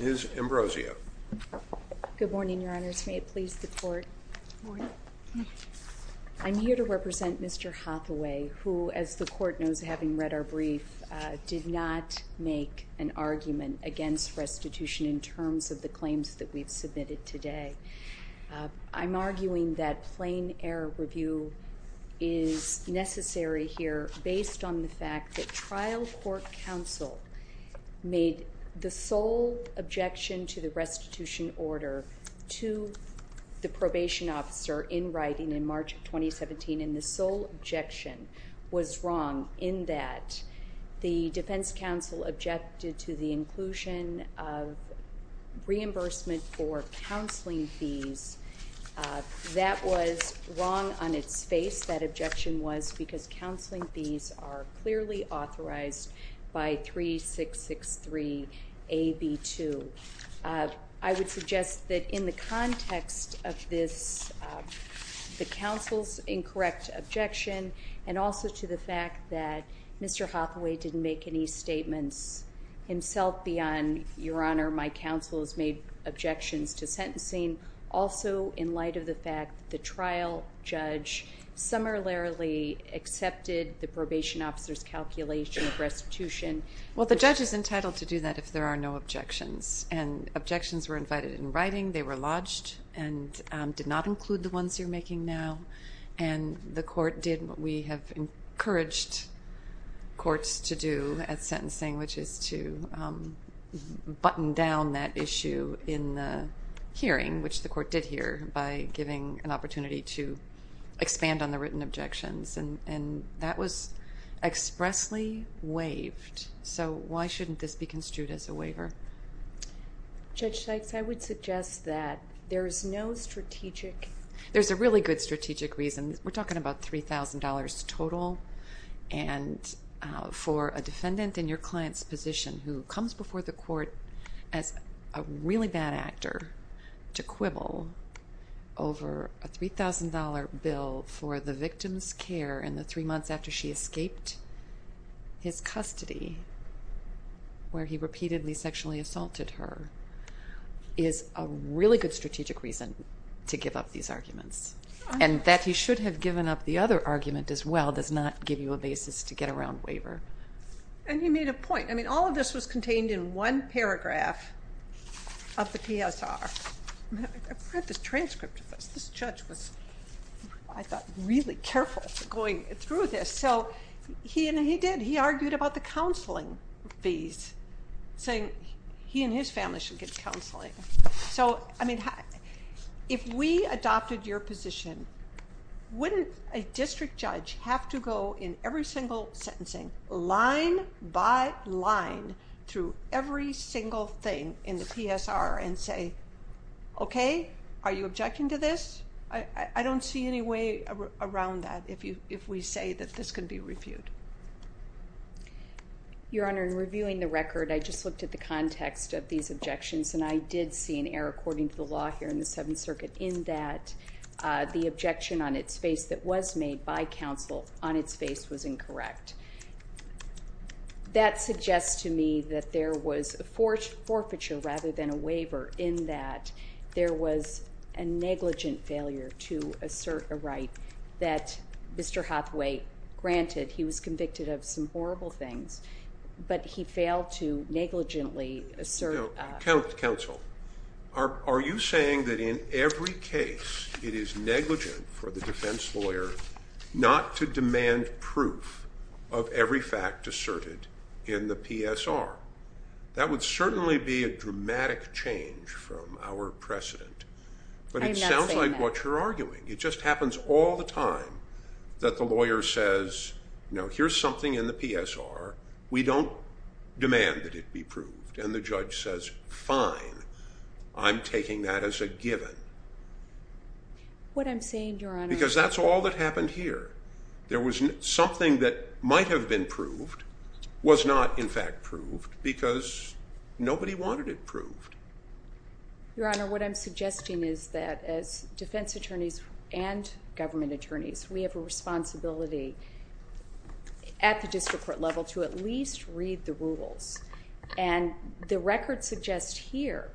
Ms. Ambrosio. Good morning, Your Honors. May it please the Court. I'm here to represent Mr. Hathaway, who, as the Court knows having read our brief, did not make an argument against restitution in terms of the claims that we've submitted today. I'm arguing that plain-error review is necessary here based on the fact that restitution order to the probation officer in writing in March of 2017, and the sole objection was wrong in that the Defense Counsel objected to the inclusion of reimbursement for counseling fees. That was wrong on its face. That objection was because counseling fees are clearly authorized by 3663 AB 2. I would suggest that in the context of this, the counsel's incorrect objection, and also to the fact that Mr. Hathaway didn't make any statements himself beyond, Your Honor, my counsel's made objections to sentencing, also in light of the fact the trial judge summarily accepted the probation officer's calculation of restitution. Well, the judge is entitled to do that if there are no objections, and objections were invited in writing. They were lodged and did not include the ones you're making now, and the Court did what we have encouraged courts to do at sentencing, which is to button down that issue in the hearing, which the Court did here by giving an opportunity to expand on the written objections, and that was expressly waived. So why shouldn't this be construed as a waiver? Judge Sykes, I would suggest that there is no strategic... There's a really good strategic reason. We're talking about $3,000 total, and for a defendant in your client's position who comes before the Court as a really bad actor to quibble over a $3,000 bill for the victim's care in the three months after she escaped his custody, where he repeatedly sexually assaulted her, is a really good strategic reason to give up these arguments, and that he should have given up the other argument as well does not give you a basis to get around waiver. And you made a point. I mean, all of this was contained in one of the PSR. I've read the transcript of this. This judge was, I thought, really careful going through this, so he did. He argued about the counseling fees, saying he and his family should get counseling. So, I mean, if we adopted your position, wouldn't a district judge have to go in every single sentencing, line by line, through every single thing in the PSR and say, okay, are you objecting to this? I don't see any way around that if we say that this can be reviewed. Your Honor, in reviewing the record, I just looked at the context of these objections, and I did see an error, according to the law here in the Seventh Circuit, in that the objection on its face that was made by counsel on its face was incorrect. That suggests to me that there was a forfeiture rather than a waiver in that there was a negligent failure to assert a right that Mr. Hathaway granted. He was convicted of some horrible things, but he failed to negligently assert a right. Now, counsel, are you saying that in every case it is negligent for the defense lawyer not to demand proof of every fact asserted in the PSR? That would certainly be a dramatic change from our precedent, but it sounds like what you're arguing. It just happens all the time that the lawyer says, you know, here's something in the PSR. We don't demand that it be proved, and the judge says, fine, I'm taking that as a given. What I'm saying, Your Honor... All that happened here, there was something that might have been proved was not, in fact, proved because nobody wanted it proved. Your Honor, what I'm suggesting is that as defense attorneys and government attorneys, we have a responsibility at the district court level to at least read the rules, and the record suggests here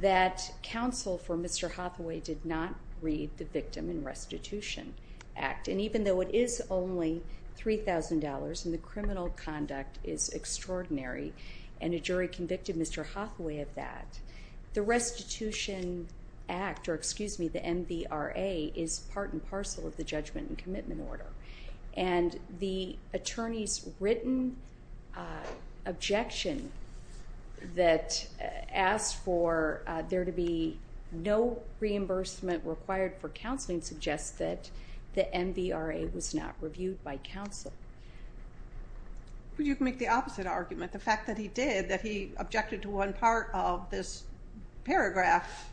that counsel for Mr. Hathaway did not read the Victim and Restitution Act, and even though it is only $3,000 and the criminal conduct is extraordinary and a jury convicted Mr. Hathaway of that, the Restitution Act, or excuse me, the NBRA, is part and parcel of the judgment and commitment order, and the attorney's written objection that asked for there to be no reimbursement required for counseling suggests that the NBRA was not reviewed by counsel. But you can make the opposite argument. The fact that he did, that he objected to one part of this paragraph,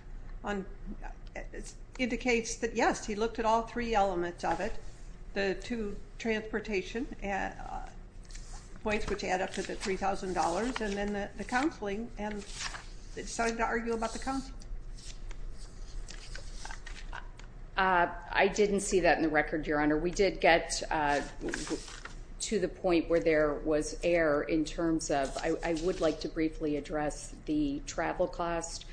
indicates that, yes, he looked at all three elements of it, the two transportation points, which add up to the $3,000, and then the counseling, and decided to argue about the counseling. I didn't see that in the record, Your Honor. We did get to the point where there was error in terms of, I would like to briefly address the travel cost.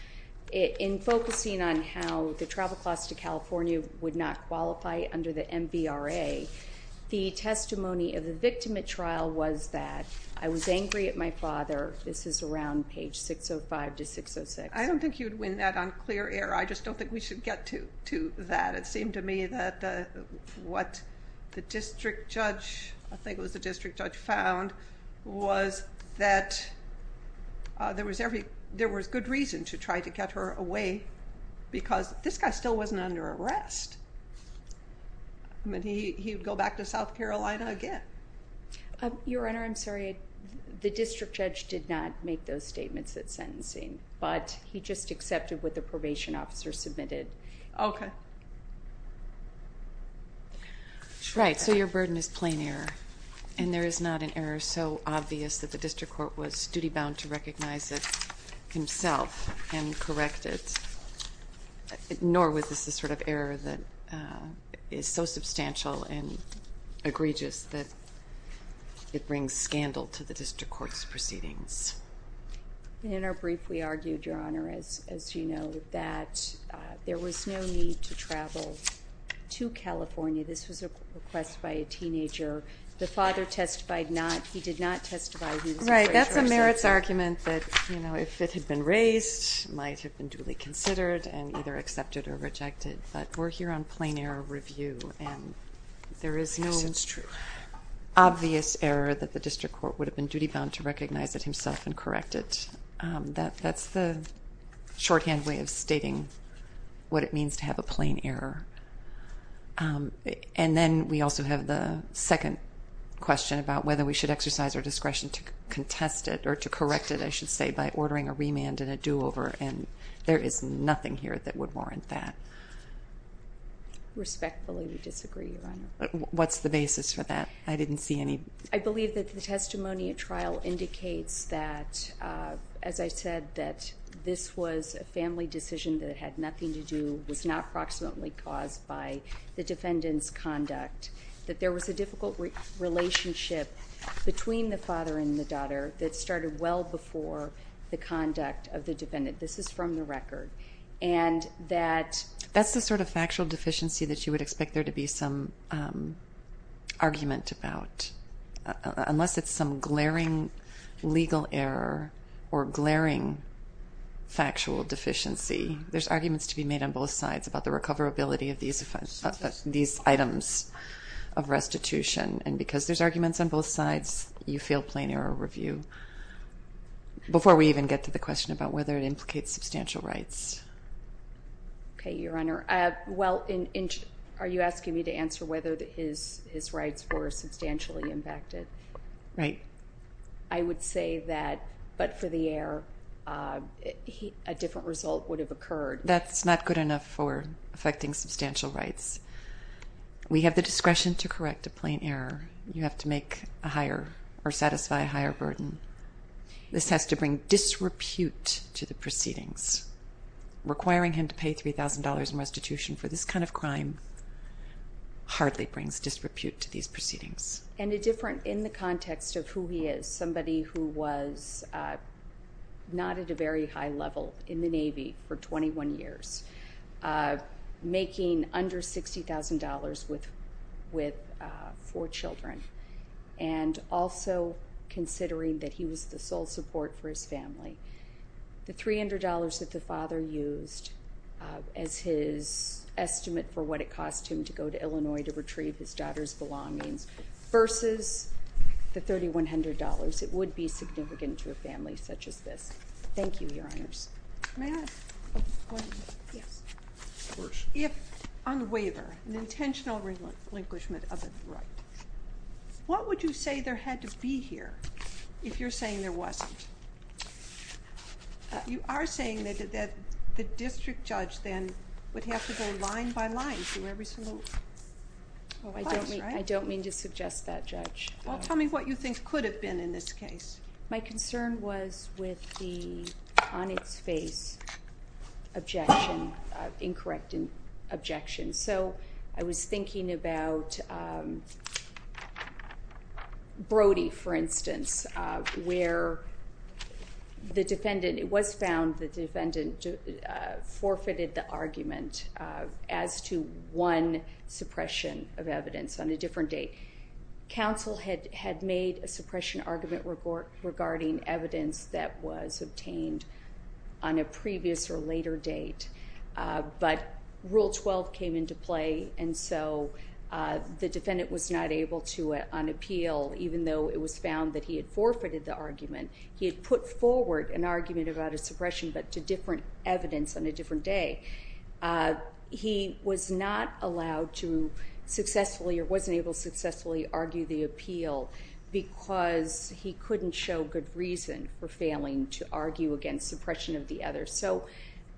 In focusing on how the travel cost to California would not qualify under the NBRA, the testimony of the victim at trial was that, I was angry at my father. This is around page 605 to 606. I don't think you'd win that on clear air. I just don't think we should get to that. It seemed to me that what the district judge, I think it was the district judge, found was that there was good reason to try to get her away, because this guy still wasn't under arrest. I mean, he would go back to South Carolina again. Your Honor, I'm sorry. The district judge did not make those statements at sentencing, but he just accepted what the probation officer submitted. Okay. Right, so your burden is plain error, and there is not an error so obvious that the district court was duty-bound to recognize it himself and correct it, nor was this the sort of error that is so substantial and it brings scandal to the district court's proceedings. In our brief, we argued, Your Honor, as you know, that there was no need to travel to California. This was a request by a teenager. The father testified not, he did not testify... Right, that's a merits argument that if it had been raised, it might have been duly considered and either accepted or rejected, but we're here on plain error review, and there is no... Obvious error that the district court would have been duty-bound to recognize it himself and correct it. That's the shorthand way of stating what it means to have a plain error. And then we also have the second question about whether we should exercise our discretion to contest it or to correct it, I should say, by ordering a remand and a do over, and there is nothing here that would warrant that. Respectfully, we disagree, Your Honor. What's the answer? I believe that the testimony at trial indicates that, as I said, that this was a family decision that had nothing to do, was not proximately caused by the defendant's conduct, that there was a difficult relationship between the father and the daughter that started well before the conduct of the defendant. This is from the record, and that... That's the sort of factual deficiency that you would expect there to be some argument about. Unless it's some glaring legal error or glaring factual deficiency, there's arguments to be made on both sides about the recoverability of these items of restitution, and because there's arguments on both sides, you feel plain error review. Before we even get to the question about whether it implicates substantial rights. Okay, Your Honor. Well, are you asking me to answer whether his rights were substantially impacted? Right. I would say that, but for the error, a different result would have occurred. That's not good enough for affecting substantial rights. We have the discretion to correct a plain error. You have to make a higher or satisfy a higher burden. This has to bring disrepute to the proceedings. Requiring him to pay $3,000 in restitution for this kind of crime hardly brings disrepute to these proceedings. And a different... In the context of who he is, somebody who was not at a very high level in the Navy for 21 years, making under $60,000 with four children, and also considering that he was the sole support for his family. The $300 that the father used as his estimate for what it cost him to go to Illinois to retrieve his daughter's belongings versus the $3,100, it would be significant to a family such as this. Thank you, Your Honors. May I add a point? Yes. Of course. If on relinquishment of a right. What would you say there had to be here if you're saying there wasn't? You are saying that the district judge then would have to go line by line through every single... Well, I don't mean to suggest that, Judge. Well, tell me what you think could have been in this case. My concern was with the on defendant objection. So I was thinking about Brody, for instance, where the defendant... It was found the defendant forfeited the argument as to one suppression of evidence on a different date. Counsel had made a suppression argument regarding evidence that was obtained on a previous or later date, but Rule 12 came into play and so the defendant was not able to unappeal even though it was found that he had forfeited the argument. He had put forward an argument about a suppression but to different evidence on a different day. He was not allowed to successfully or wasn't able to successfully argue the suppression of the other. So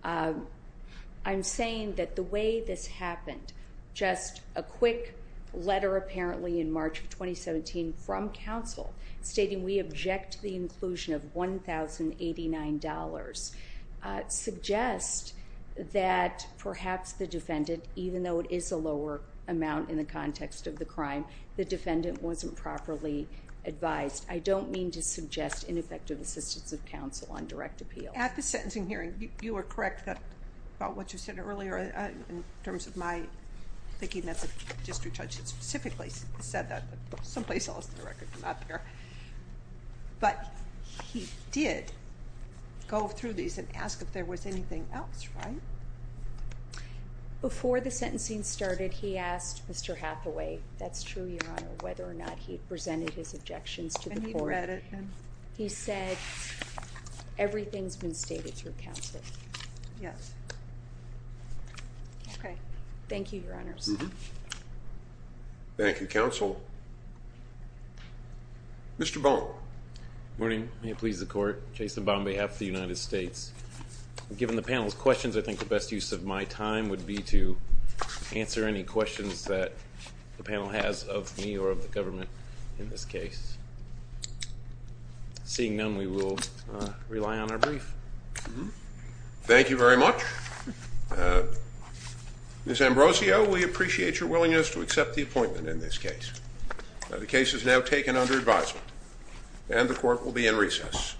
I'm saying that the way this happened, just a quick letter apparently in March of 2017 from counsel stating we object to the inclusion of $1,089, suggests that perhaps the defendant, even though it is a lower amount in the context of the crime, the defendant wasn't properly advised. I don't mean to suggest ineffective assistance of counsel on direct appeal. At the sentencing hearing, you were correct about what you said earlier in terms of my thinking as a district judge that specifically said that, but some place else in the record is not there. But he did go through these and ask if there was anything else, right? Before the sentencing started, he asked Mr. Hathaway, that's true, Your Honor, whether or not he presented his objections to the court. He said everything's been stated through counsel. Yes. Okay. Thank you, Your Honors. Thank you, counsel. Mr. Baum. Good morning. May it please the court. Jason Baum on behalf of the United States. Given the panel's questions, I think the best use of my time would be to answer any questions that the panel has of me or of the government in this case. Seeing none, we will rely on our brief. Thank you very much. Ms. Ambrosio, we appreciate your willingness to accept the appointment in this case. The case is now taken under advisement and the court will be in recess.